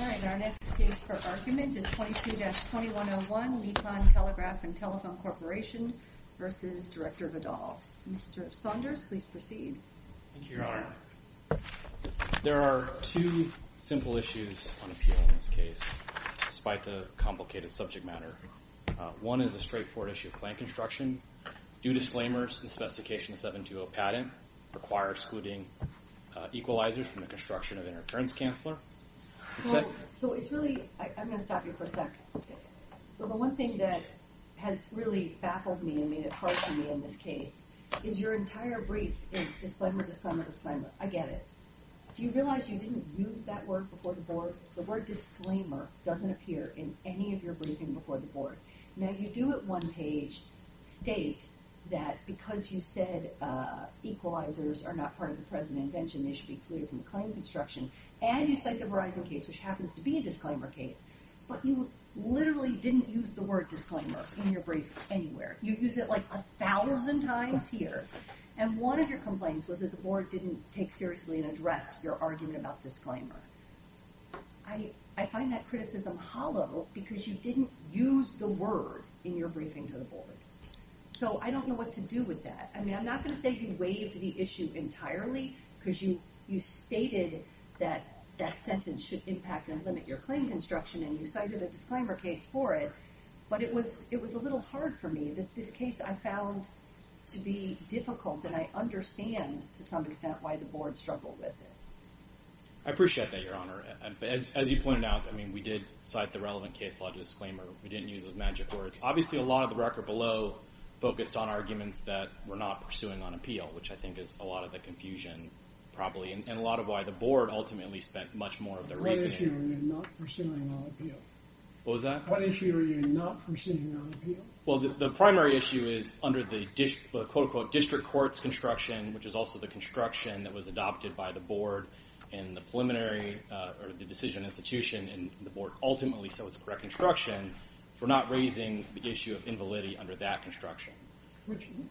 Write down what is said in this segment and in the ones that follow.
All right. Our next case for argument is 22-2101 Nippon Telegraph and Telephone Corporation versus Director Vidal. Mr. Saunders, please proceed. Thank you, Your Honor. There are two simple issues on appeal in this case, despite the complicated subject matter. One is a straightforward issue of claim construction. Due to disclaimers in the specification of 720 patent, it requires excluding equalizers from the construction of interference, Counselor. So it's really, I'm going to stop you for a second. The one thing that has really baffled me and made it hard for me in this case is your entire brief is disclaimer, disclaimer, disclaimer. I get it. Do you realize you didn't use that word before the board? The word disclaimer doesn't appear in any of your briefing before the board. Now, you do at one page state that because you said equalizers are not part of the present invention, they should be excluded from the claim construction. And you cite the Verizon case, which happens to be a disclaimer case. But you literally didn't use the word disclaimer in your brief anywhere. You use it like a thousand times here. And one of your complaints was that the board didn't take seriously and address your argument about disclaimer. I find that criticism hollow because you didn't use the word in your briefing to the board. So I don't know what to do with that. I mean, I'm not going to say you waived the issue entirely because you, you stated that that sentence should impact and limit your claim construction and you cited a disclaimer case for it. But it was, it was a little hard for me. This, this case I found to be difficult and I understand to some extent why the board struggled with it. I appreciate that, Your Honor. As, as you pointed out, I mean, we did cite the relevant case law disclaimer. We didn't use those magic words. Obviously a lot of the record below focused on arguments that we're not pursuing on appeal, which I think is a lot of the confusion probably. And a lot of why the board ultimately spent much more of their reasoning. What issue are you not pursuing on appeal? What was that? What issue are you not pursuing on appeal? Well, the primary issue is under the quote unquote district courts construction, which is also the construction that was adopted by the board and the preliminary or the decision institution and the board ultimately, so it's correct construction. We're not raising the issue of invalidity under that construction. Which one?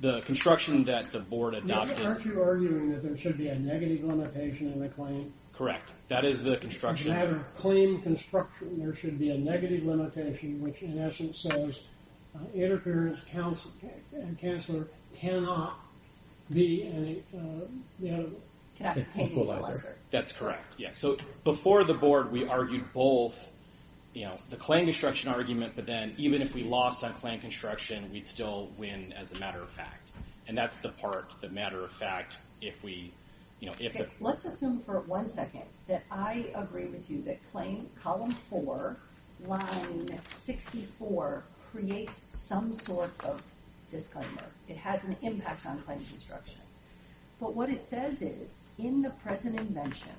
The construction that the board adopted. Aren't you arguing that there should be a negative limitation in the claim? Correct. That is the construction. Rather claim construction, there should be a negative limitation, which in essence says interference counsel and counselor cannot be an equalizer. That's correct. Yeah. So before the board, we argued both, you know, the claim construction argument, but then even if we lost on claim construction, we'd still win as a matter of fact. And that's the part, the matter of fact, if we, you know, let's assume for one second that I agree with you, that claim column four line 64 creates some sort of disclaimer. It has an impact on claim construction, but what it says is in the present invention,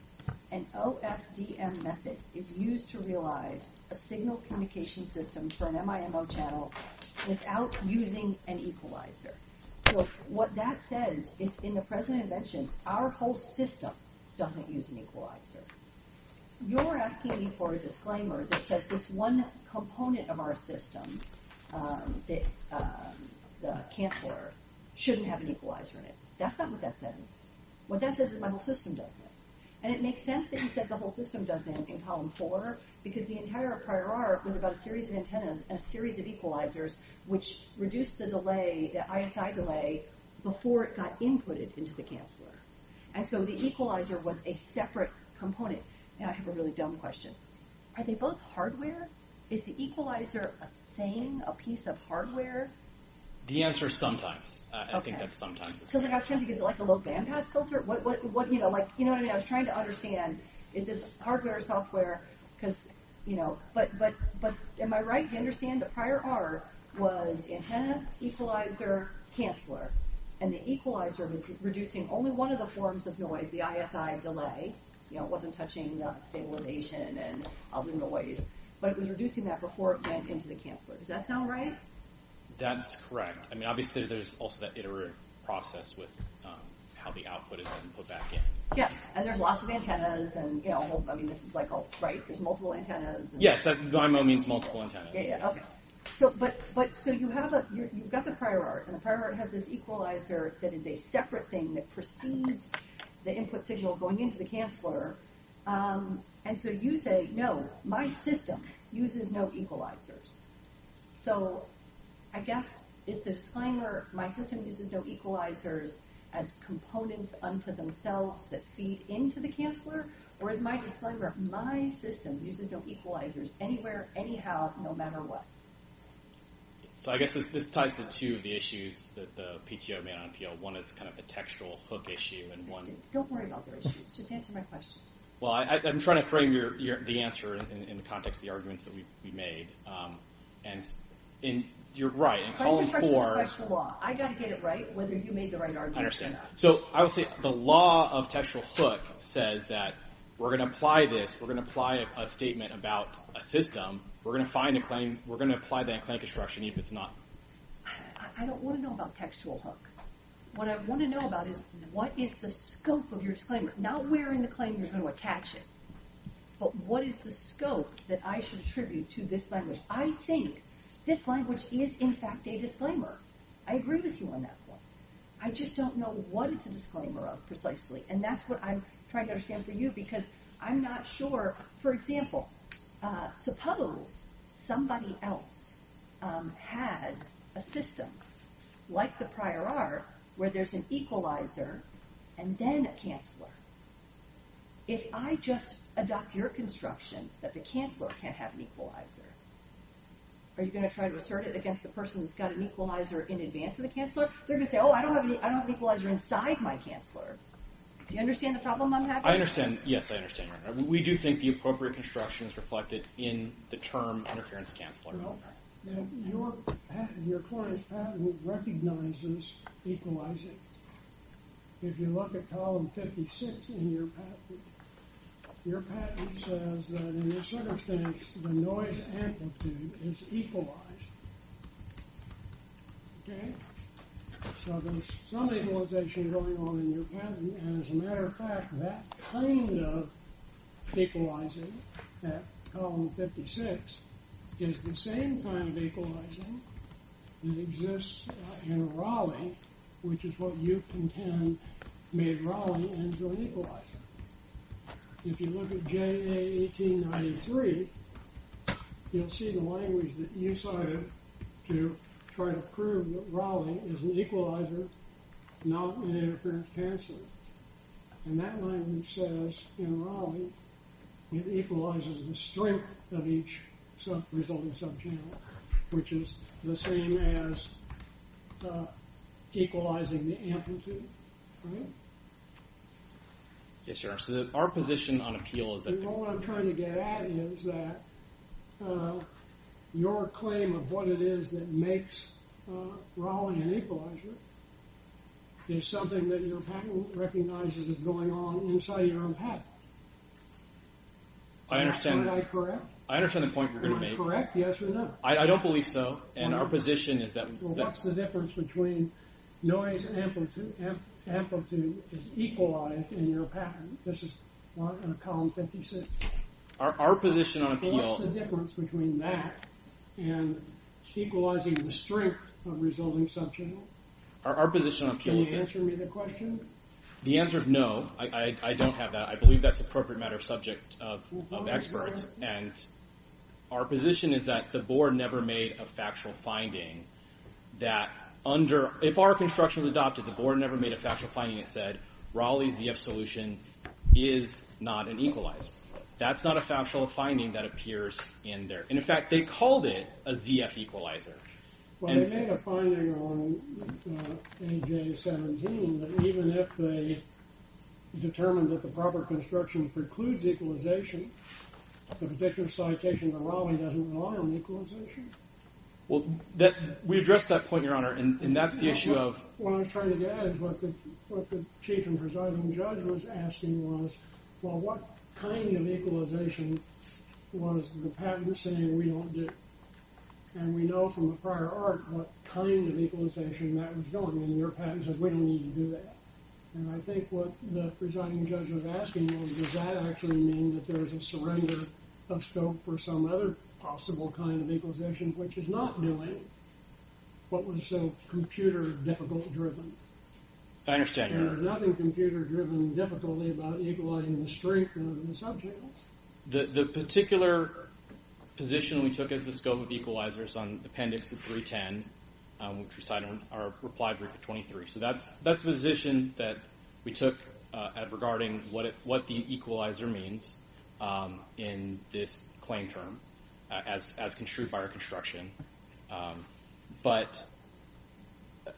an OFDM method is used to realize a signal communication system for an MIMO channel without using an equalizer. So what that says is in the present invention, our whole system doesn't use an equalizer. You're asking me for a disclaimer that says this one component of our system, the counselor shouldn't have an equalizer in it. That's not what that says. What that says is my whole system does it. And it makes sense that you said the whole system does it in column four, because the entire prior arc was about a series of antennas, a series of equalizers, which reduced the delay, the ISI delay before it got inputted into the counselor. And so the equalizer was a separate component. And I have a really dumb question. Are they both hardware? Is the equalizer a thing, a piece of hardware? The answer is sometimes. I think that's sometimes. Because like I was trying to think, is it like a low bandpass filter? You know what I mean? I was trying to understand, is this hardware or software? But am I right to understand the prior arc was antenna, equalizer, counselor. And the equalizer was reducing only one of the forms of noise, the ISI delay. It wasn't touching stabilization and other noise. But it was reducing that before it went into the counselor. Does that sound right? That's correct. I mean obviously there's also that iterative process with how the output is then put back in. Yes, and there's lots of antennas. And you know, I mean this is like, right, there's multiple antennas. Yes, that means multiple antennas. Okay, so you've got the prior arc, and the prior arc has this equalizer that is a separate thing that precedes the input signal going into the counselor. And so you say, no, my system uses no equalizers. So I guess, is the disclaimer, my system uses no equalizers as components unto themselves that feed into the counselor? Or is my disclaimer, my system uses no equalizers anywhere, anyhow, no matter what? So I guess this ties to two of the issues that the PTO made on PL. One is kind of a textual hook issue, and one... Don't worry about the issues, just answer my question. Well, I'm trying to frame the answer in the context of the arguments that we made. And you're right, in column four... I got to get it right, whether you made the right argument or not. I understand. So I would say the law of textual hook says that we're going to apply this, we're going to apply a statement about a system, we're going to find a claim, we're going to apply that claim construction if it's not... I don't want to know about textual hook. What I want to know about is, what is the scope of your disclaimer? Not where in the claim you're going to attach it, but what is the scope that I should attribute to this language? I think this language is, in fact, a disclaimer. I agree with you on that point. I just don't know what it's a disclaimer of, precisely. And that's what I'm trying to understand for you, because I'm not sure... For example, suppose somebody else has a system, like the prior art, where there's an equalizer and then a canceler. If I just adopt your construction that the canceler can't have an equalizer, are you going to try to assert it against the person who's got an equalizer in advance of the canceler? They're going to say, oh, I don't have an equalizer inside my canceler. Do you understand the problem I'm having? I understand. Yes, I understand. We do think the appropriate construction is reflected in the term interference canceler. Well, your patent, your court's patent recognizes equalizing. If you look at column 56 in your patent, your patent says that in this circumstance, the noise amplitude is equalized. Okay? So there's some equalization going on in your patent, and as a matter of fact, that kind of equalizing at column 56 is the same kind of equalizing that exists in Raleigh, which is what you contend made Raleigh into an equalizer. If you look at JA 1893, you'll see the language that you cited to try to prove that Raleigh is an equalizer, not an interference canceler. And that language says in Raleigh, it equalizes the strength of each resulting sub-channel, which is the same as equalizing the amplitude, right? Yes, Your Honor. So our position on appeal is that— What I'm trying to get at is that your claim of what it is that makes Raleigh an equalizer is something that your patent recognizes is going on inside your own patent. I understand— Am I correct? I understand the point you're going to make. Correct? Yes or no? I don't believe so, and our position is that— Well, what's the difference between noise amplitude is equalized in your patent? This is column 56. Our position on appeal— What's the difference between that and equalizing the strength of resulting sub-channel? Our position on appeal is that— Can you answer me the question? The answer is no. I don't have that. I believe that's an appropriate matter of subject of experts, and our position is that the board never made a factual finding that under—if our construction was adopted, the board never made a factual finding that said, Raleigh's ZF solution is not an equalizer. That's not a factual finding that appears in there. In fact, they called it a ZF equalizer. Well, they made a finding on AJ-17 that even if they determined that the proper construction precludes equalization, the predictive citation of Raleigh doesn't allow an equalization. Well, we addressed that point, Your Honor, and that's the issue of— What I was trying to get at is what the chief and presiding judge was asking was, well, what kind of equalization was the patent saying we don't do? And we know from the prior arc what kind of equalization that was doing, and your patent says we don't need to do that. And I think what the presiding judge was asking was, does that actually mean that there's a surrender of scope for some other possible kind of equalization, which is not computer-difficult-driven? I understand, Your Honor. There's nothing computer-driven-difficult about equalizing the strength of the sub-channels? The particular position we took as the scope of equalizers on Appendix 310, which we cite in our reply brief at 23, so that's the position that we took regarding what the equalizer means in this claim term, as construed by our construction. But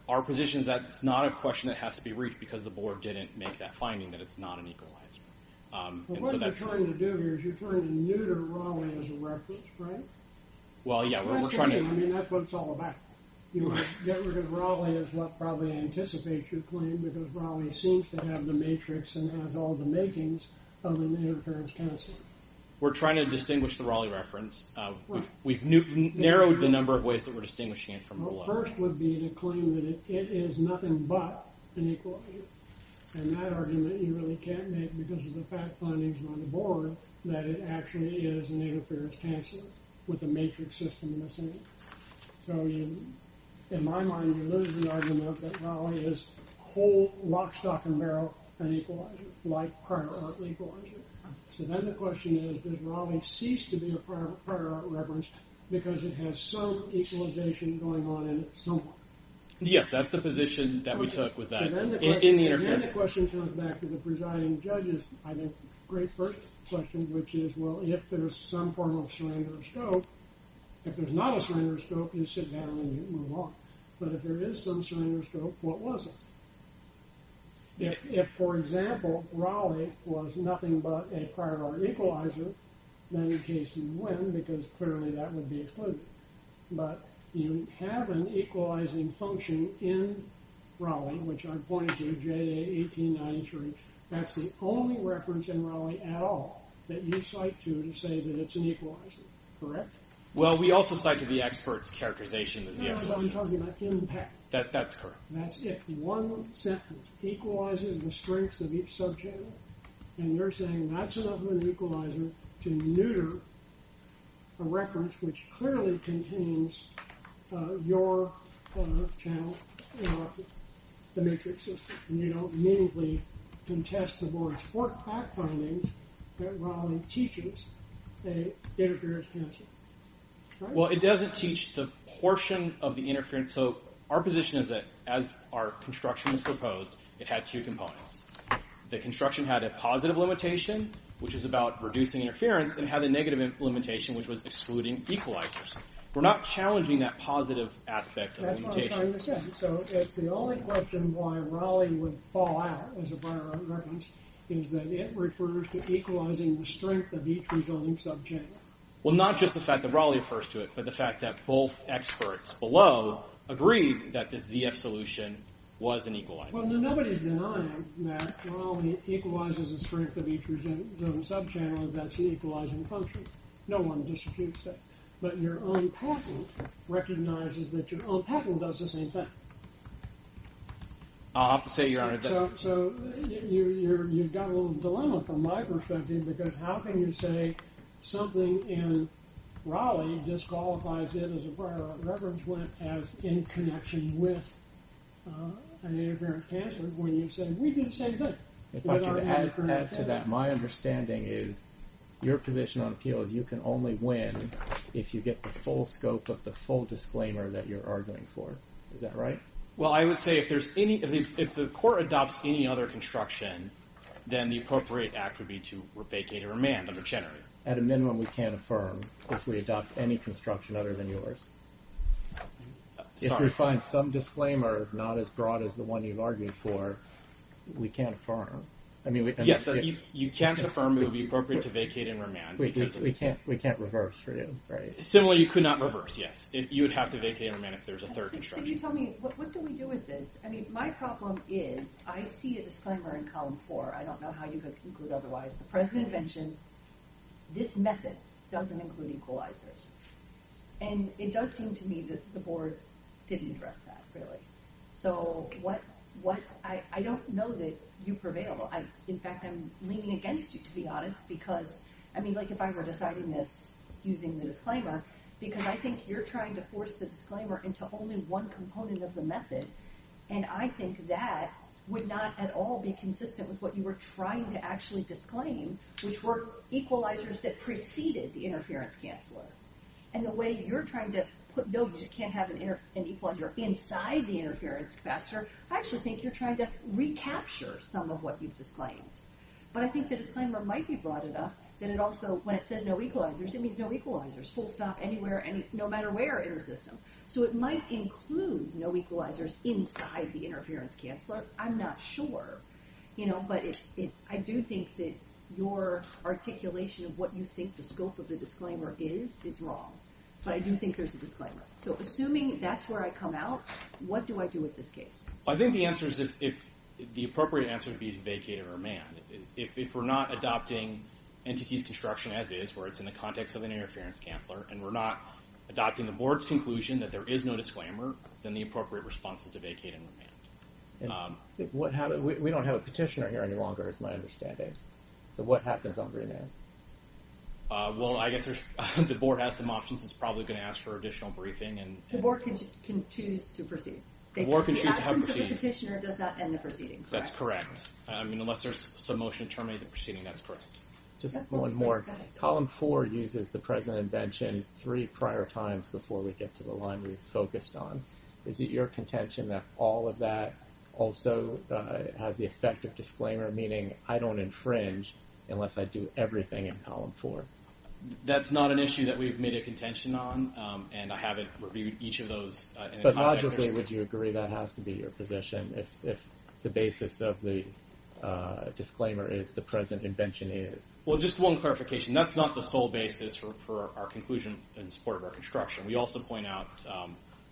our position is that it's not a question that has to be reached because the board didn't make that finding that it's not an equalizer. But what you're trying to do here is you're trying to neuter Raleigh as a reference, right? Well, yeah, we're trying to— That's the thing. I mean, that's what it's all about. You get rid of Raleigh as what probably anticipates your claim because Raleigh seems to have the matrix and has all the makings of an interference canceler. We're trying to distinguish the Raleigh reference. We've narrowed the number of ways that we're distinguishing it from below. The first would be to claim that it is nothing but an equalizer, and that argument you really can't make because of the fact findings on the board that it actually is an interference canceler with a matrix system in the center. So in my mind, you lose the argument that whole, lock, stock, and barrel, an equalizer, like prior art equalizer. So then the question is, does Raleigh cease to be a prior art reference because it has some equalization going on in it somewhere? Yes, that's the position that we took was that— So then the question comes back to the presiding judge's, I think, great first question, which is, well, if there's some form of surrender scope, if there's not a surrender scope, you sit down and you move on. But if there is some surrender scope, what was it? If, for example, Raleigh was nothing but a prior art equalizer, then in case you win, because clearly that would be excluded. But you have an equalizing function in Raleigh, which I'm pointing to, J.A. 1893. That's the only reference in Raleigh at all that you cite to to say that it's an equalizer. Correct? Well, we also cite to the expert's characterization. No, I'm talking about impact. That's correct. That's if one sentence equalizes the strength of each subchannel, and you're saying that's enough of an equalizer to neuter a reference which clearly contains your channel or the matrix system. And you don't meaningfully contest the board's four fact findings that Raleigh teaches that it appears canceled. Well, it doesn't teach the portion of the interference. So our position is that as our construction was proposed, it had two components. The construction had a positive limitation, which is about reducing interference, and had a negative limitation, which was excluding equalizers. We're not challenging that positive aspect of the limitation. That's what I'm trying to say. So it's the only question why Raleigh would fall out as a prior art reference is that it refers to equalizing the strength of each resulting subchannel. Well, not just the fact that Raleigh refers to it, but the fact that both experts below agreed that this ZF solution was an equalizer. Well, nobody's denying that Raleigh equalizes the strength of each resulting subchannel if that's the equalizing function. No one disputes that. But your own patent recognizes that your own patent does the same thing. I'll have to say, Your Honor, that... So you've got a little dilemma from my perspective. Because how can you say something in Raleigh disqualifies it as a prior art reference, when it has in connection with an interferent answer, when you say, we can say that. If I could add to that, my understanding is your position on appeal is you can only win if you get the full scope of the full disclaimer that you're arguing for. Is that right? Well, I would say if there's any, if the court adopts any other construction, then the appropriate act would be to vacate and remand under Chenery. At a minimum, we can't affirm if we adopt any construction other than yours. If we find some disclaimer not as broad as the one you've argued for, we can't affirm. I mean, yes, you can't affirm it would be appropriate to vacate and remand. We can't reverse for you, right? Similarly, you could not reverse. Yes, you would have to vacate and remand if there's a third construction. What do we do with this? I mean, my problem is I see a disclaimer in column four. I don't know how you could include otherwise. The president mentioned this method doesn't include equalizers. And it does seem to me that the board didn't address that, really. So what, I don't know that you prevail. In fact, I'm leaning against you, to be honest, because I mean, like if I were deciding this using the disclaimer, because I think you're trying to force the disclaimer into only one component of the method. And I think that would not at all be consistent with what you were trying to actually disclaim, which were equalizers that preceded the interference canceler. And the way you're trying to put, no, you just can't have an equalizer inside the interference capacitor, I actually think you're trying to recapture some of what you've disclaimed. But I think the disclaimer might be broad enough that it also, when it says no equalizers, it means no equalizers, full stop, anywhere, no matter where in the system. So it might include no equalizers inside the interference canceler. I'm not sure. You know, but I do think that your articulation of what you think the scope of the disclaimer is, is wrong. But I do think there's a disclaimer. So assuming that's where I come out, what do I do with this case? I think the answer is, the appropriate answer would be to vacate or amend. If we're not adopting entities construction as is, where it's in the context of an interference canceler, and we're not adopting the board's conclusion that there is no disclaimer, then the appropriate response is to vacate and amend. And what happens, we don't have a petitioner here any longer, is my understanding. So what happens on remand? Well, I guess there's, the board has some options. It's probably going to ask for additional briefing and... The board can choose to proceed. The board can choose to proceed. The absence of a petitioner does not end the proceeding, correct? That's correct. I mean, unless there's some motion to terminate the proceeding, that's correct. Just one more. Column four uses the present invention three prior times before we get to the line we've focused on. Is it your contention that all of that also has the effect of disclaimer, meaning I don't infringe unless I do everything in column four? That's not an issue that we've made a contention on, and I haven't reviewed each of those. But logically, would you agree that has to be your position if the basis of the disclaimer is the present invention is? Well, just one clarification. That's not the sole basis for our conclusion in support of our construction. We also point out,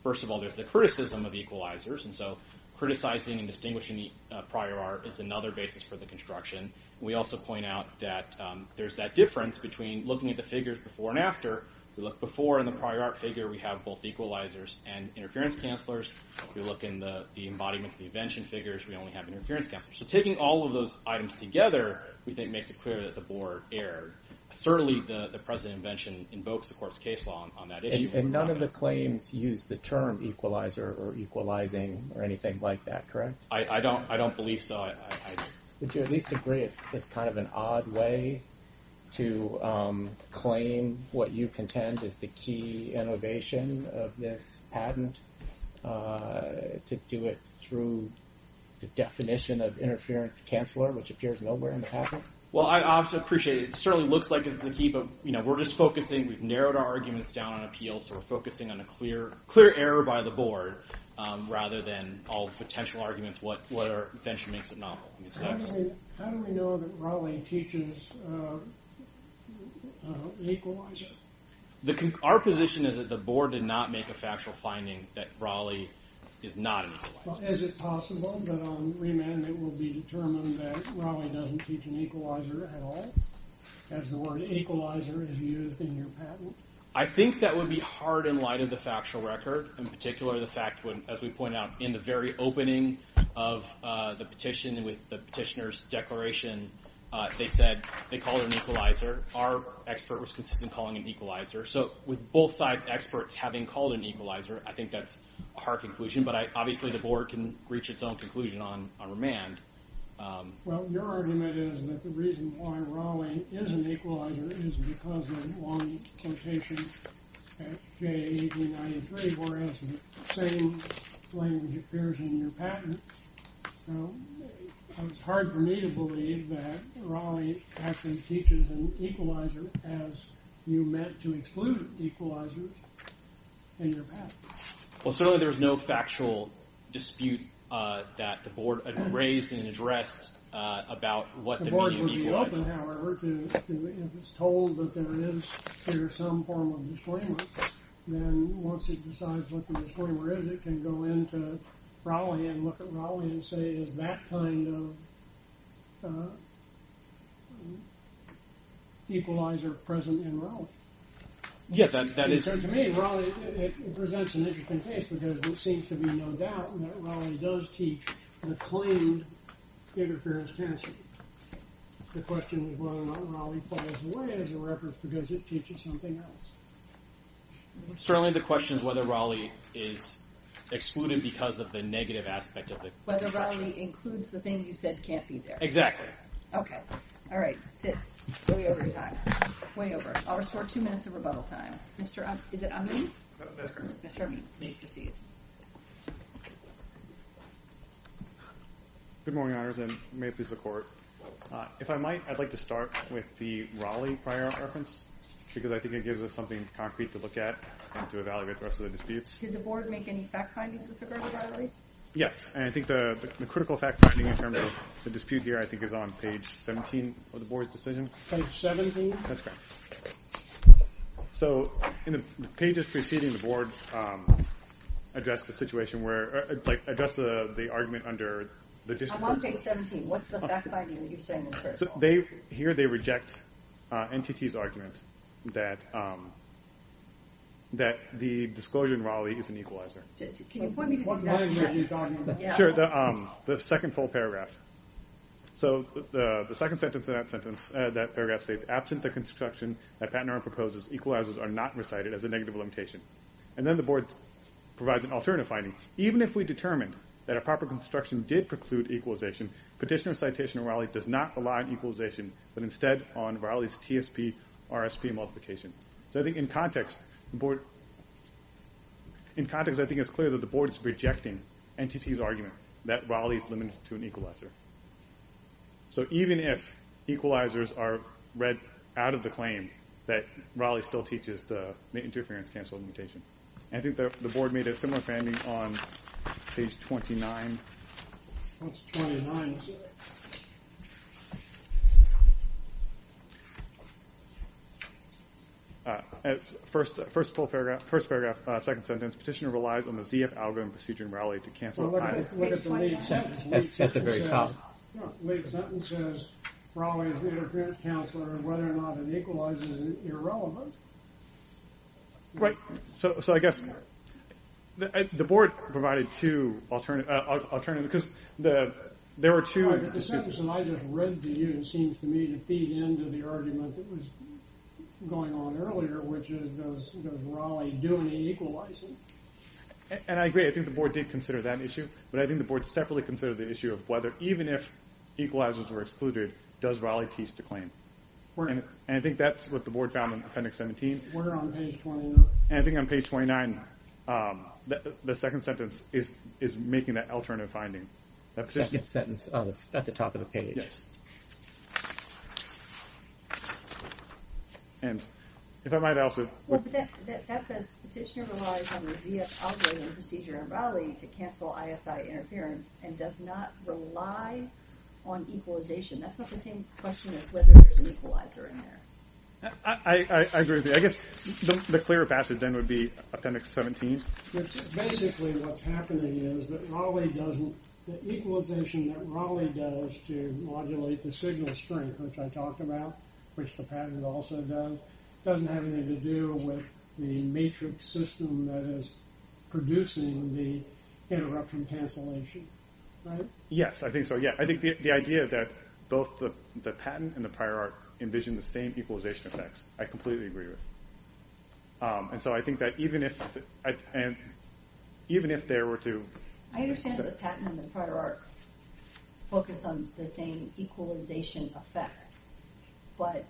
first of all, there's the criticism of equalizers, and so criticizing and distinguishing prior art is another basis for the construction. We also point out that there's that difference between looking at the figures before and We look before in the prior art figure, we have both equalizers and interference cancelers. We look in the embodiments, the invention figures, we only have interference cancelers. So taking all of those items together, we think makes it clear that the board erred. Certainly, the present invention invokes the court's case law on that issue. And none of the claims use the term equalizer or equalizing or anything like that, correct? I don't believe so. Would you at least agree it's kind of an odd way to claim what you contend is the key innovation of this patent to do it through the definition of interference canceler, which appears nowhere in the patent? Well, I also appreciate it. It certainly looks like it's the key, but we're just focusing. We've narrowed our arguments down on appeal. So we're focusing on a clear error by the board rather than all potential arguments, what our invention makes it novel. How do we know that Raleigh teaches equalizer? Our position is that the board did not make a factual finding that Raleigh is not an equalizer. Is it possible that on remand it will be determined that Raleigh doesn't teach an equalizer at all, as the word equalizer is used in your patent? I think that would be hard in light of the factual record. In particular, the fact, as we point out, in the very opening of the petition with the petitioner's declaration, they said they called it an equalizer. Our expert was consistent in calling it an equalizer. So with both sides' experts having called it an equalizer, I think that's a hard conclusion. But obviously the board can reach its own conclusion on remand. Well, your argument is that the reason why Raleigh is an equalizer is because of one quotation at J.E. 93, whereas the same language appears in your patent. So it's hard for me to believe that Raleigh actually teaches an equalizer, as you meant to exclude equalizers in your patent. Well, certainly there's no factual dispute that the board had raised and addressed about what the meaning of equalizer is. However, if it's told that there is some form of disclaimer, then once it decides what the disclaimer is, it can go into Raleigh and look at Raleigh and say, is that kind of equalizer present in Raleigh? Yes, that is. To me, Raleigh presents an interesting case, because it seems to be no doubt that Raleigh does teach the claimed interference tenancy. The question is whether or not Raleigh falls away as a record because it teaches something else. Certainly the question is whether Raleigh is excluded because of the negative aspect of it. Whether Raleigh includes the thing you said can't be there. Exactly. Okay. All right. Sit. Way over your time. Way over. I'll restore two minutes of rebuttal time. Mr. Amin. Is it Amin? Mr. Amin, please proceed. Good morning, Your Honors, and may it please the Court. If I might, I'd like to start with the Raleigh prior reference, because I think it gives us something concrete to look at and to evaluate the rest of the disputes. Did the Board make any fact findings with regard to Raleigh? Yes, and I think the critical fact finding in terms of the dispute here I think is on page 17 of the Board's decision. Page 17? That's correct. Okay. So in the pages preceding the Board address the situation where, like address the argument under the dispute. On page 17. What's the fact finding that you're saying is first of all? They, here they reject NTT's argument that the disclosure in Raleigh is an equalizer. Can you point me to the exact sentence? Sure, the second full paragraph. So the second sentence of that sentence, that paragraph states, absent the construction that Patinorum proposes, equalizers are not recited as a negative limitation. And then the Board provides an alternative finding. Even if we determined that a proper construction did preclude equalization, petitioner citation in Raleigh does not rely on equalization, but instead on Raleigh's TSP, RSP, and multiplication. So I think in context, the Board, in context I think it's clear that the Board is rejecting NTT's argument that Raleigh is limited to an equalizer. So even if equalizers are read out of the claim that Raleigh still teaches the interference canceling limitation. I think that the Board made a similar finding on page 29. What's 29? First full paragraph, first paragraph, second sentence, petitioner relies on the ZF algorithm procedure in Raleigh to cancel. At the very top. Late sentence says Raleigh is the interference counselor and whether or not it equalizes is irrelevant. Right, so I guess the Board provided two alternative, because there were two. But the sentence that I just read to you seems to me to feed into the argument that was going on earlier, which is does Raleigh do any equalizing? And I agree. I think the Board did consider that issue, but I think the Board separately considered the issue of whether even if equalizers were excluded, does Raleigh teach the claim? And I think that's what the Board found in Appendix 17. And I think on page 29, the second sentence is making that alternative finding. That second sentence at the top of the page. Yes. And if I might also. Well, that says petitioner relies on the ZF algorithm procedure in Raleigh to cancel ISI interference and does not rely on equalization. That's not the same question as whether there's an equalizer in there. I agree with you. I guess the clearer passage then would be Appendix 17. Basically what's happening is that Raleigh doesn't, the equalization that Raleigh does to modulate the signal strength, which I talked about, which the patent also does, doesn't have anything to do with the matrix system that is producing the interruption cancellation, right? Yes, I think so. Yeah, I think the idea that both the patent and the prior art envision the same equalization effects, I completely agree with. And so I think that even if there were to. I understand that the patent and the prior art focus on the same equalization effects, but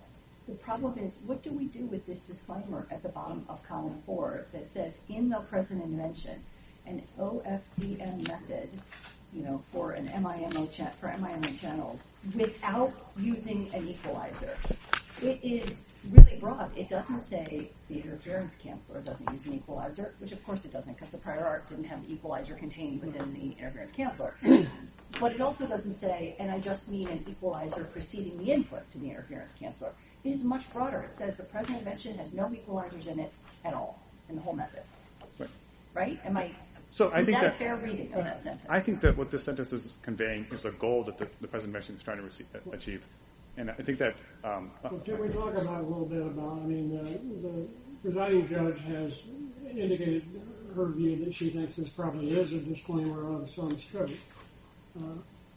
the problem is what do we do with this disclaimer at the bottom of column four that says in the present invention, an OFDM method, you know, for an MIMO, for MIMO channels without using an equalizer. It is really broad. It doesn't say the interference canceller doesn't use an equalizer, which of course it doesn't because the prior art didn't have equalizer contained within the interference canceller. But it also doesn't say, and I just mean an equalizer preceding the input to the interference canceller. It is much broader. It says the present invention has no equalizers in it at all in the whole method, right? Am I, is that a fair reading of that sentence? I think that what this sentence is conveying is the goal that the present invention is trying to achieve. And I think that. Can we talk about a little bit about, I mean, the presiding judge has indicated, her view that she thinks this probably is a disclaimer of some scope.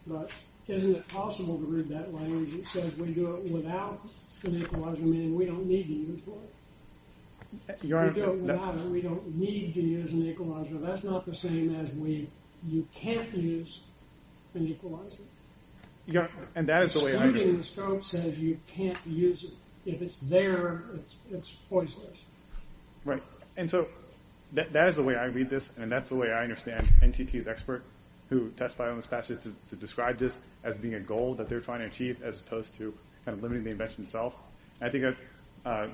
But isn't it possible to read that language? It says we do it without an equalizer, meaning we don't need to use one. We do it without it. We don't need to use an equalizer. That's not the same as we, you can't use an equalizer. Yeah, and that is the way I understand it. Excluding the scope says you can't use it. If it's there, it's, it's poisonous. Right. And so that is the way I read this. And that's the way I understand NTT's expert who testified on this passage to describe this as being a goal that they're trying to achieve as opposed to kind of limiting the invention itself. I think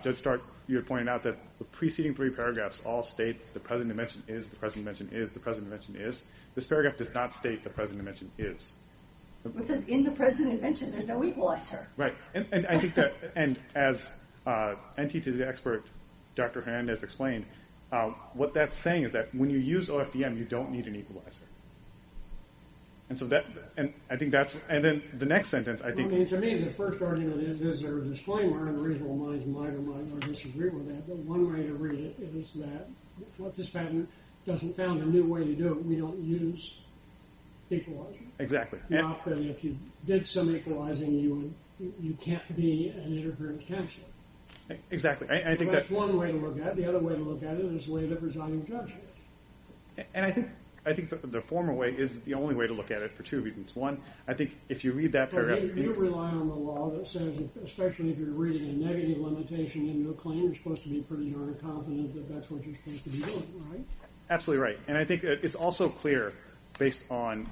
Judge Stark, you're pointing out that the preceding three paragraphs all state the present invention is, the present invention is, the present invention is. This paragraph does not state the present invention is. It says in the present invention, there's no equalizer. Right. And I think that, and as NTT's expert, Dr. Hernandez explained, what that's saying is that when you use OFDM, you don't need an equalizer. And so that, and I think that's, and then the next sentence, I think. I mean, to me, the first argument is there's a disclaimer and reasonable minds might or might not disagree with that, but one way to read it is that what this patent doesn't found a new way to do it. We don't use equalizer. Exactly. If you did some equalizing, you would, you can't be an interference counselor. Exactly. I think that's one way to look at it. The other way to look at it is the way that presiding judge. And I think, I think the former way is the only way to look at it for two reasons. One, I think if you read that paragraph. You rely on the law that says, especially if you're reading a negative limitation in your claim, you're supposed to be pretty darn confident that that's what you're supposed to be doing, right? Absolutely right. And I think it's also clear based on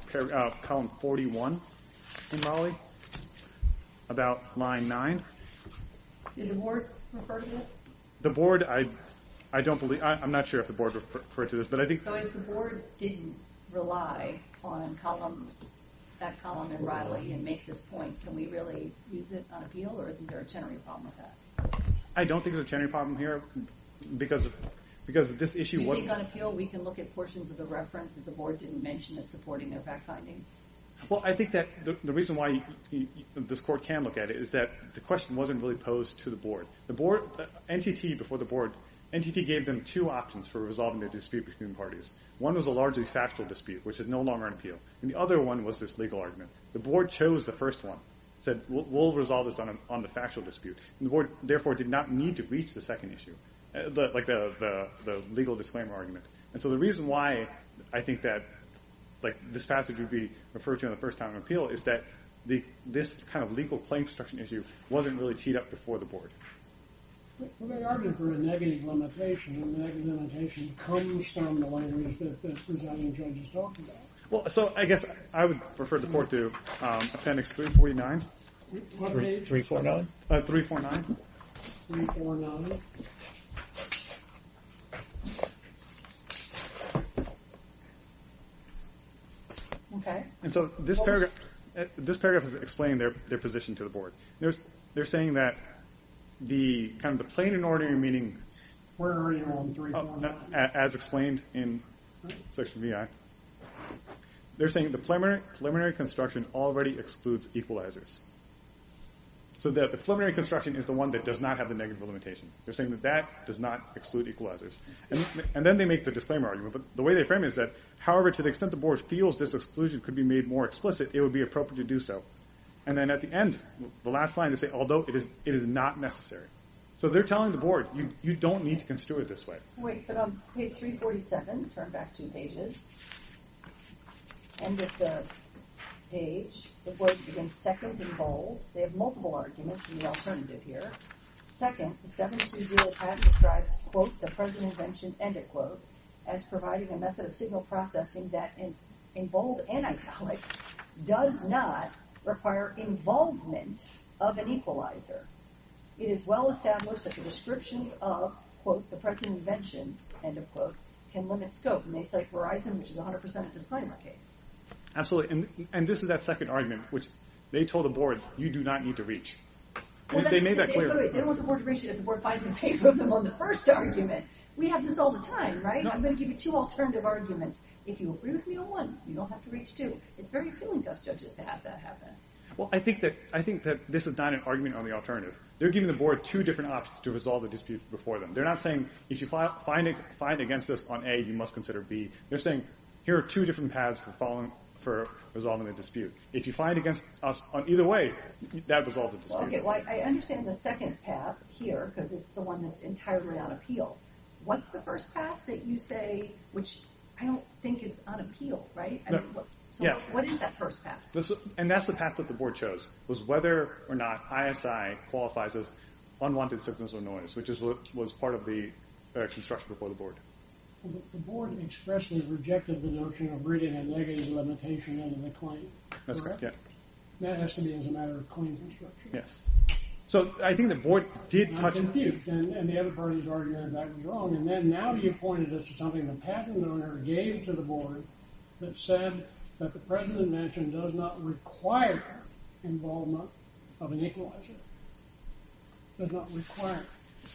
column 41 in Raleigh about line nine. Did the board refer to this? The board, I, I don't believe, I'm not sure if the board referred to this, but I think. So if the board didn't rely on column, that column in Raleigh and make this point, can we really use it on appeal or isn't there a Chenery problem with that? I don't think there's a Chenery problem here because, because this issue. We can look at portions of the reference that the board didn't mention as supporting their fact findings. Well, I think that the reason why this court can look at it is that the question wasn't really posed to the board. The board, NTT before the board, NTT gave them two options for resolving the dispute between parties. One was a largely factual dispute, which is no longer an appeal. And the other one was this legal argument. The board chose the first one said we'll resolve this on the factual dispute. And the board therefore did not need to reach the second issue. Like the legal disclaimer argument. And so the reason why I think that like this passage would be referred to in the first time of appeal is that this kind of legal claim construction issue wasn't really teed up before the board. Well, they argued for a negative limitation and the negative limitation comes from the language that the presiding judge is talking about. Well, so I guess I would refer the court to Appendix 349. What page? 349. 349. 349. Okay. And so this paragraph is explaining their position to the board. They're saying that the kind of the plain and ordinary meaning as explained in Section VI, they're saying the preliminary construction already excludes equalizers. So that the preliminary construction is the one that does not have the negative limitation. They're saying that that does not exclude equalizers. And then they make the disclaimer argument. But the way they frame it is that, however, to the extent the board feels this exclusion could be made more explicit, it would be appropriate to do so. And then at the end, the last line, they say, although it is not necessary. So they're telling the board, you don't need to construe it this way. Wait, but on page 347, turn back two pages. And at the page, the board begins second and bold. They have multiple arguments in the alternative here. Second, the 720 paragraph describes, quote, the present invention, end of quote, as providing a method of signal processing that, in bold and italics, does not require involvement of an equalizer. It is well established that the descriptions of, quote, the present invention, end of quote, can limit scope. And they cite Verizon, which is 100% a disclaimer case. Absolutely. And this is that second argument, which they told the board, you do not need to reach. They made that clear. They don't want the board to reach it if the board finds it in favor of them on the first argument. We have this all the time, right? I'm going to give you two alternative arguments. If you agree with me on one, you don't have to reach two. It's very appealing to us judges to have that happen. Well, I think that this is not an argument on the alternative. They're giving the board two different options to resolve the dispute before them. They're not saying, if you find against this on A, you must consider B. They're saying, here are two different paths for resolving the dispute. If you find against us on either way, that resolves the dispute. OK. Well, I understand the second path here, because it's the one that's entirely on appeal. What's the first path that you say, which I don't think is on appeal, right? What is that first path? And that's the path that the board chose, was whether or not ISI qualifies as unwanted signals or noise, which was part of the construction before the board. The board expressly rejected the notion of bringing a negative limitation under the claim. That has to be as a matter of clean construction. Yes. So I think the board did touch on that. I'm confused. And the other parties are arguing that that was wrong. And then now you pointed us to something the patent owner gave to the board that said that the president mentioned does not require involvement of an equalizer. Does not require.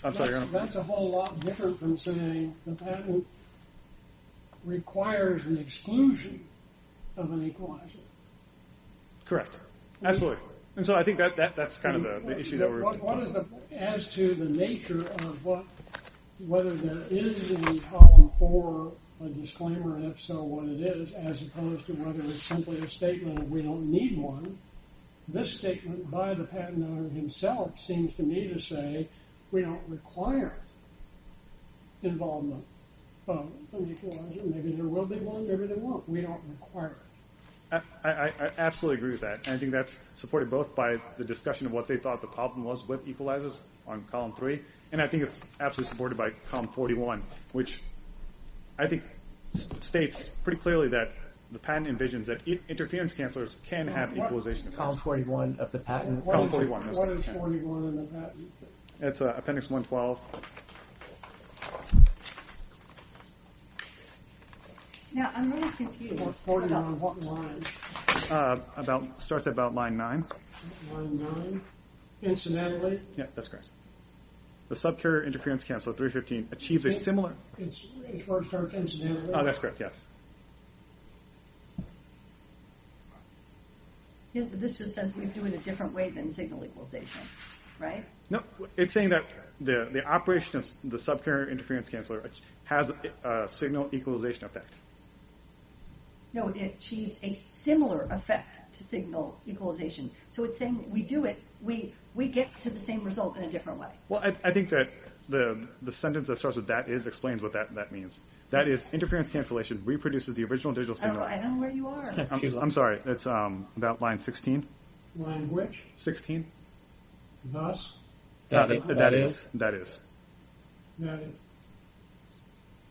That's a whole lot different from saying the patent requires an exclusion of an equalizer. Correct. Absolutely. And so I think that that's kind of the issue. As to the nature of what, whether there is in Column 4 a disclaimer, if so, what it is, as opposed to whether it's simply a statement of we don't need one. This statement by the patent owner himself seems to me to say we don't require involvement of an equalizer. Maybe there will be one, maybe there won't. We don't require. I absolutely agree with that. And I think that's supported both by the discussion of what they thought the problem was with equalizers on Column 3. And I think it's absolutely supported by Column 41, which I think states pretty clearly that the patent envisions that interference cancelers can have equalization effects. Column 41 of the patent. That's Appendix 112. Now, I'm really confused about what line. Starts at about line 9. Line 9, incidentally. Yeah, that's correct. The subcarrier interference canceler 315 achieves a similar. It's where it starts incidentally. Oh, that's correct, yes. This just says we do it a different way than signal equalization, right? No, it's saying that the operation of the subcarrier interference canceler has a signal equalization effect. No, it achieves a similar effect to signal equalization. So it's saying we do it, we get to the same result in a different way. Well, I think that the sentence that starts with that is explains what that means. That is, interference cancellation reproduces the original digital signal. I don't know where you are. I'm sorry. It's about line 16. Line which? 16. Thus? That is. That is.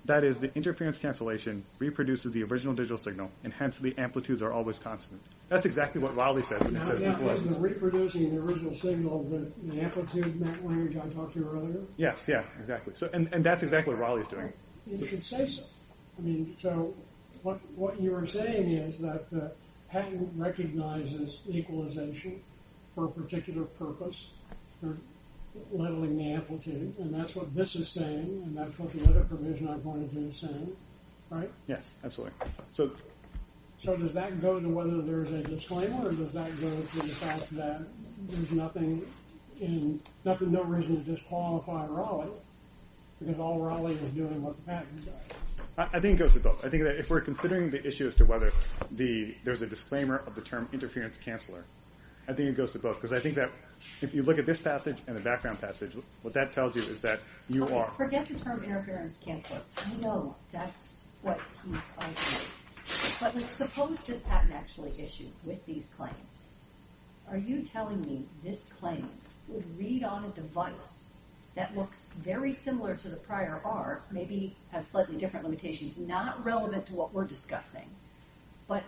That is, the interference cancellation reproduces the original digital signal, and hence the amplitudes are always constant. That's exactly what Raleigh says when he says equalization. Is it reproducing the original signal, the amplitude, that one which I talked to earlier? Yes, yeah, exactly. And that's exactly what Raleigh is doing. You should say so. I mean, so what you are saying is that the patent recognizes equalization for a particular purpose for leveling the amplitude, and that's what this is saying, and that's what the other provision I'm going to do is saying, right? Yes, absolutely. So does that go to whether there's a disclaimer, or does that go to the fact that there's no reason to disqualify Raleigh because all Raleigh is doing what the patent says? I think it goes to both. I think that if we're considering the issue as to whether there's a disclaimer of the term interference-canceler, I think it goes to both, because I think that if you look at this passage and the background passage, what that tells you is that you are... Forget the term interference-canceler. I know that's what piece I did, but suppose this patent actually issued with these claims. Are you telling me this claim would read on a device that looks very similar to the prior R, maybe has slightly different limitations, not relevant to what we're discussing, but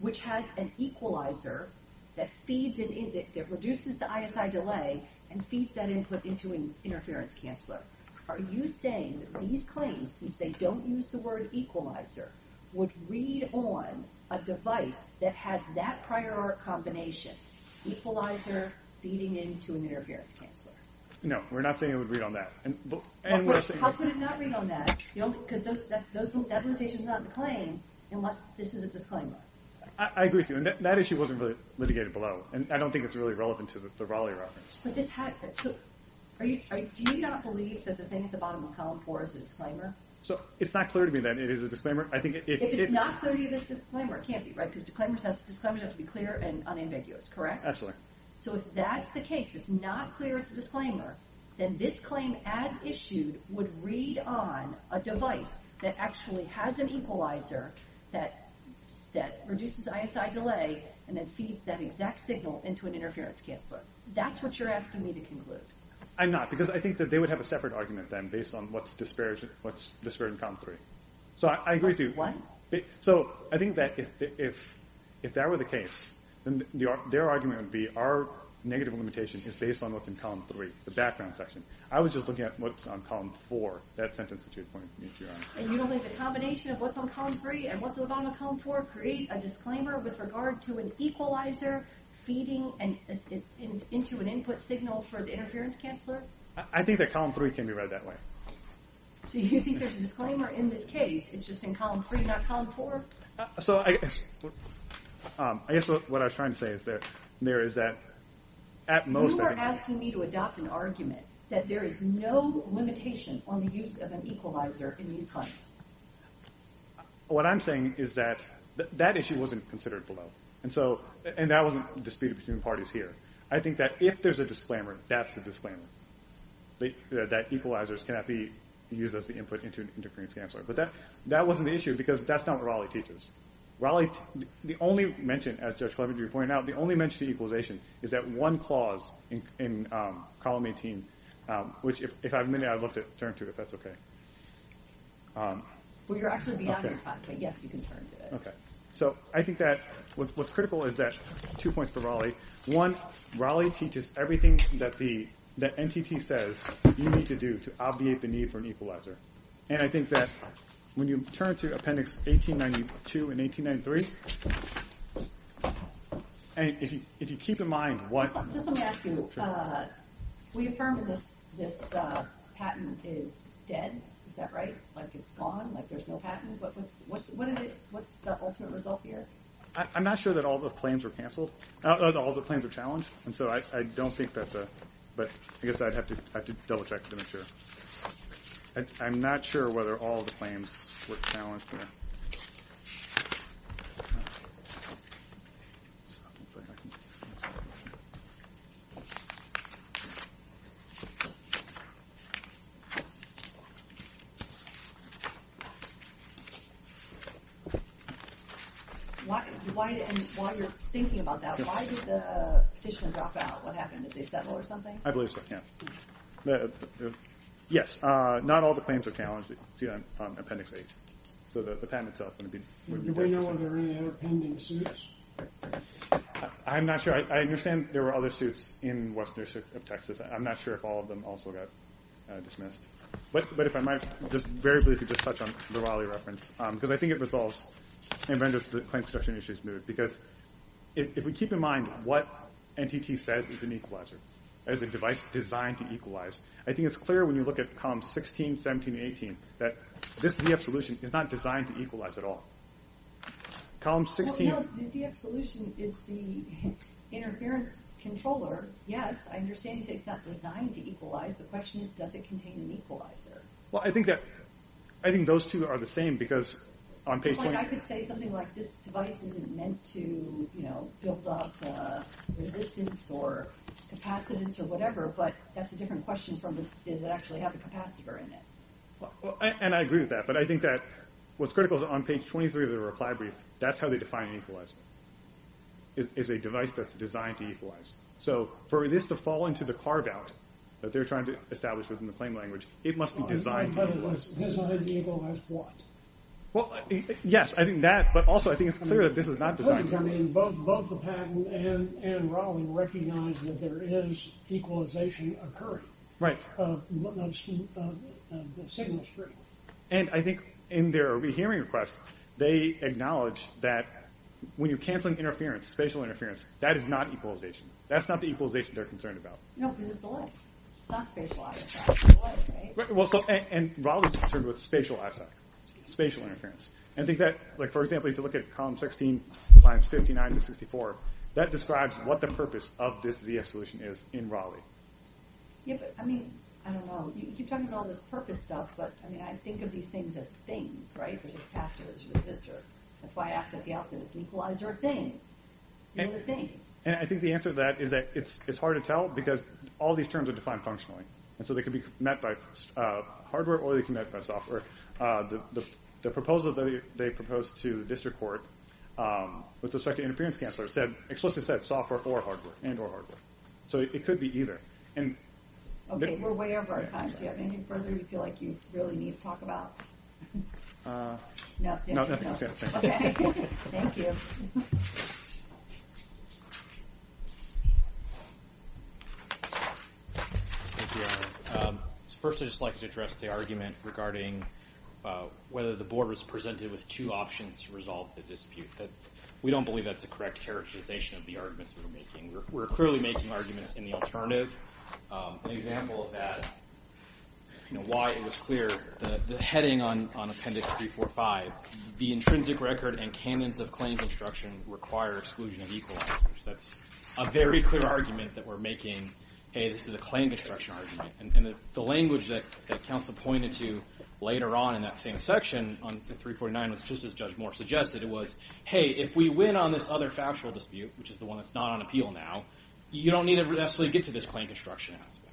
which has an equalizer that reduces the ISI delay and feeds that input into an interference-canceler? Are you saying that these claims, since they don't use the word equalizer, would read on a device that has that prior R combination, equalizer, feeding into an interference-canceler? No, we're not saying it would read on that. How could it not read on that? Because that limitation is not in the claim unless this is a disclaimer. I agree with you, and that issue wasn't really litigated below, and I don't think it's really relevant to the Raleigh reference. Do you not believe that the thing at the bottom of column four is a disclaimer? It's not clear to me that it is a disclaimer. If it's not clear to you that it's a disclaimer, it can't be, right? Because disclaimers have to be clear and unambiguous, correct? Absolutely. So if that's the case, if it's not clear it's a disclaimer, then this claim as issued would read on a device that actually has an equalizer that reduces ISI delay and then feeds that exact signal into an interference-canceler. That's what you're asking me to conclude. I'm not, because I think that they would have a separate argument then based on what's disparate in column three. So I agree with you. So I think that if that were the case, then their argument would be our negative limitation is based on what's in column three. The background section. I was just looking at what's on column four. That sentence that you pointed to me, if you're honest. And you don't think the combination of what's on column three and what's at the bottom of column four create a disclaimer with regard to an equalizer feeding into an input signal for the interference-canceler? I think that column three can be read that way. So you think there's a disclaimer in this case? It's just in column three, not column four? So I guess what I was trying to say is that there is that at most... We need to adopt an argument that there is no limitation on the use of an equalizer in these claims. What I'm saying is that that issue wasn't considered below. And so, and that wasn't disputed between parties here. I think that if there's a disclaimer, that's the disclaimer. That equalizers cannot be used as the input into an interference-canceler. But that wasn't the issue because that's not what Raleigh teaches. Raleigh, the only mention, as Judge Cleaver pointed out, the only mention to equalization is that one clause in column 18, which if I have a minute, I'd love to turn to if that's okay. Well, you're actually beyond your time, but yes, you can turn to it. Okay. So I think that what's critical is that two points for Raleigh. One, Raleigh teaches everything that the NTT says you need to do to obviate the need for an equalizer. And I think that when you turn to appendix 1892 and 1893, I mean, if you keep in mind what- Just let me ask you, we affirmed this patent is dead. Is that right? Like it's gone? Like there's no patent? But what's the ultimate result here? I'm not sure that all the claims were canceled, all the claims were challenged. And so I don't think that's a, but I guess I'd have to double check to make sure. I'm not sure whether all the claims were challenged here. Okay. Why, and while you're thinking about that, why did the petitioner drop out? What happened? Did they settle or something? I believe so, yeah. Yes, not all the claims are challenged on appendix eight. So the patent itself wouldn't be- Do we know if there are any other pending suits? I'm not sure. I understand there were other suits in Western New York of Texas. I'm not sure if all of them also got dismissed. But if I might just very briefly just touch on the Raleigh reference, because I think it resolves the claim construction issues move, because if we keep in mind what NTT says is an equalizer, as a device designed to equalize, I think it's clear when you look at columns 16, 17, 18, that this ZF solution is not designed to equalize at all. Column 16- Well, no, the ZF solution is the interference controller. Yes, I understand you say it's not designed to equalize. The question is, does it contain an equalizer? Well, I think that, I think those two are the same because on page 20- I could say something like this device isn't meant to, you know, build up resistance or capacitance or whatever, but that's a different question from this, does it actually have a capacitor in it? And I agree with that. I think that what's critical is on page 23 of the reply brief, that's how they define equalizer, is a device that's designed to equalize. So for this to fall into the carve-out that they're trying to establish within the claim language, it must be designed to equalize. But it was designed to equalize what? Well, yes, I think that, but also I think it's clear that this is not designed to equalize. Of course, I mean, both the patent and Raleigh recognize that there is equalization occurring. Right. The signal is critical. And I think in their re-hearing request, they acknowledge that when you're canceling interference, spatial interference, that is not equalization. That's not the equalization they're concerned about. No, because it's elect. It's not spatialized. Well, so, and Raleigh's concerned with spatial asset, spatial interference. And I think that, like, for example, if you look at column 16, lines 59 to 64, that describes what the purpose of this ZS solution is in Raleigh. Yeah, but I mean, I don't know. You keep talking about all this purpose stuff, but I mean, I think of these things as things, right? If there's a capacitor, there's a resistor. That's why I asked at the outset, does it equalize or a thing? And I think the answer to that is that it's hard to tell because all these terms are defined functionally. And so they could be met by hardware or they can be met by software. The proposal that they proposed to the district court with respect to interference cancelers said explicitly said software or hardware and or hardware. So it could be either. And okay, we're way over our time. Do you have anything further you feel like you really need to talk about? No, nothing. Thank you. So first, I'd just like to address the argument regarding whether the board was presented with two options to resolve the dispute. We don't believe that's the correct characterization of the arguments that we're making. We're clearly making arguments in the alternative. An example of that, why it was clear, the heading on appendix 345, the intrinsic record and canons of claim construction require exclusion of equalizers. That's a very clear argument that we're making, hey, this is a claim construction argument. And the language that counsel pointed to later on in that same section on 349 was just as Judge Moore suggested. It was, hey, if we win on this other factual dispute, which is the one that's not on appeal now, you don't need to actually get to this claim construction aspect.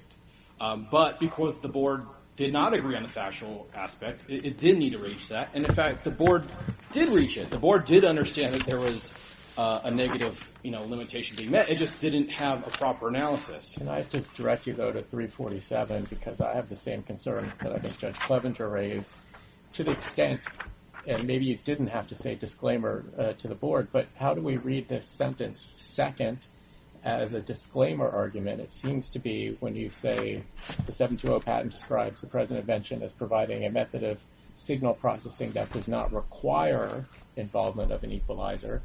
But because the board did not agree on the factual aspect, it did need to reach that. And in fact, the board did reach it. The board did understand that there was a negative limitation being met. It just didn't have a proper analysis. And I just directly go to 347 because I have the same concern that I think Judge Clevenger raised to the extent, and maybe you didn't have to say disclaimer to the board, but how do we read this sentence second as a disclaimer argument? It seems to be when you say the 720 patent describes the present invention as providing a method of signal processing that does not require involvement of an equalizer.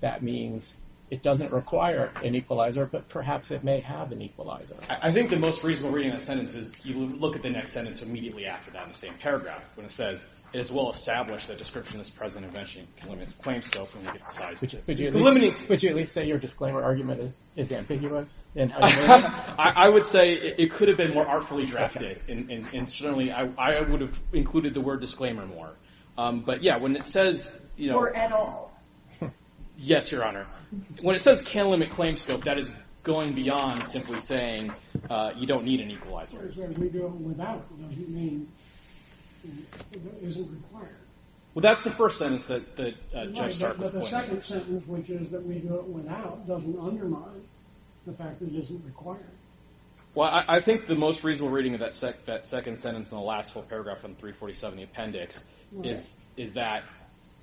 That means it doesn't require an equalizer, but perhaps it may have an equalizer. I think the most reasonable reading of that sentence is you look at the next sentence immediately after that in the same paragraph when it says, it is well-established that description of this present invention can limit the claim scope and limit its size. Would you at least say your disclaimer argument is ambiguous? I would say it could have been more artfully drafted. And certainly, I would have included the word disclaimer more. But yeah, when it says, you know. Or at all. Yes, Your Honor. When it says can't limit claim scope, that is going beyond simply saying you don't need an equalizer. As far as we go without, what do you mean, is it required? Well, that's the first sentence that Judge Stark was pointing to. But the second sentence, which is that we do it without, doesn't undermine the fact that it isn't required. Well, I think the most reasonable reading of that second sentence in the last whole paragraph from 347 of the appendix is that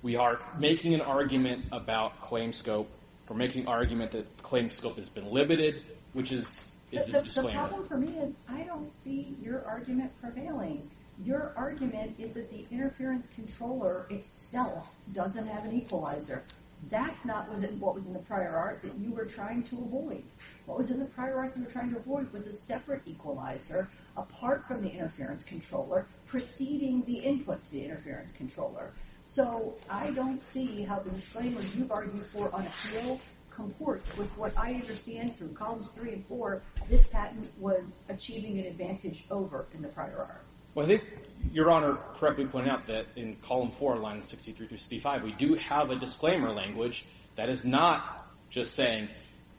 we are making an argument about claim scope. We're making argument that claim scope has been limited, which is a disclaimer. The problem for me is I don't see your argument prevailing. Your argument is that the interference controller itself doesn't have an equalizer. That's not what was in the prior art that you were trying to avoid. What was in the prior art you were trying to avoid was a separate equalizer apart from the interference controller, preceding the input to the interference controller. So I don't see how the disclaimers you've argued for on appeal comport with what I understand through columns three and four, this patent was achieving an advantage over in the prior art. Well, I think Your Honor correctly pointed out that in column four, line 63 through 65, we do have a disclaimer language that is not just saying,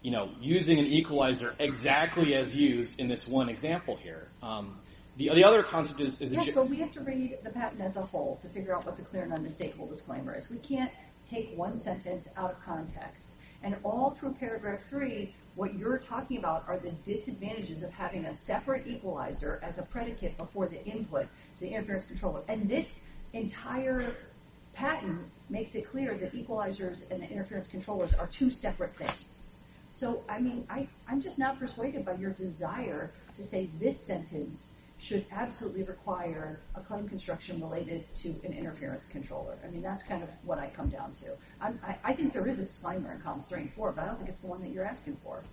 you know, using an equalizer exactly as used in this one example here. The other concept is... Yes, but we have to read the patent as a whole to figure out what the clear and unmistakable disclaimer is. We can't take one sentence out of context. And all through paragraph three, what you're talking about are the disadvantages of having a separate equalizer as a predicate before the input to the interference controller. And this entire patent makes it clear that equalizers and the interference controllers are two separate things. So, I mean, I'm just not persuaded by your desire to say this sentence should absolutely require a claim construction related to an interference controller. I mean, that's kind of what I come down to. I think there is a disclaimer in columns three and four, but I don't think it's the one that you're asking for.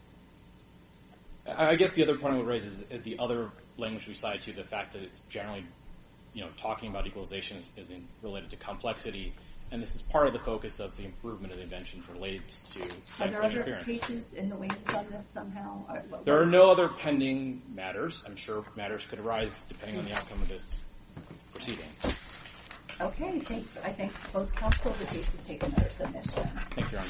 I guess the other point I would raise is that the other language resides to the fact that it's generally, you know, talking about equalization as in related to complexity. And this is part of the focus of the improvement of the invention for late to. There are no other pending matters. I'm sure matters could arise depending on the outcome of this proceeding. OK, thanks. I think both counsels would be to take another submission.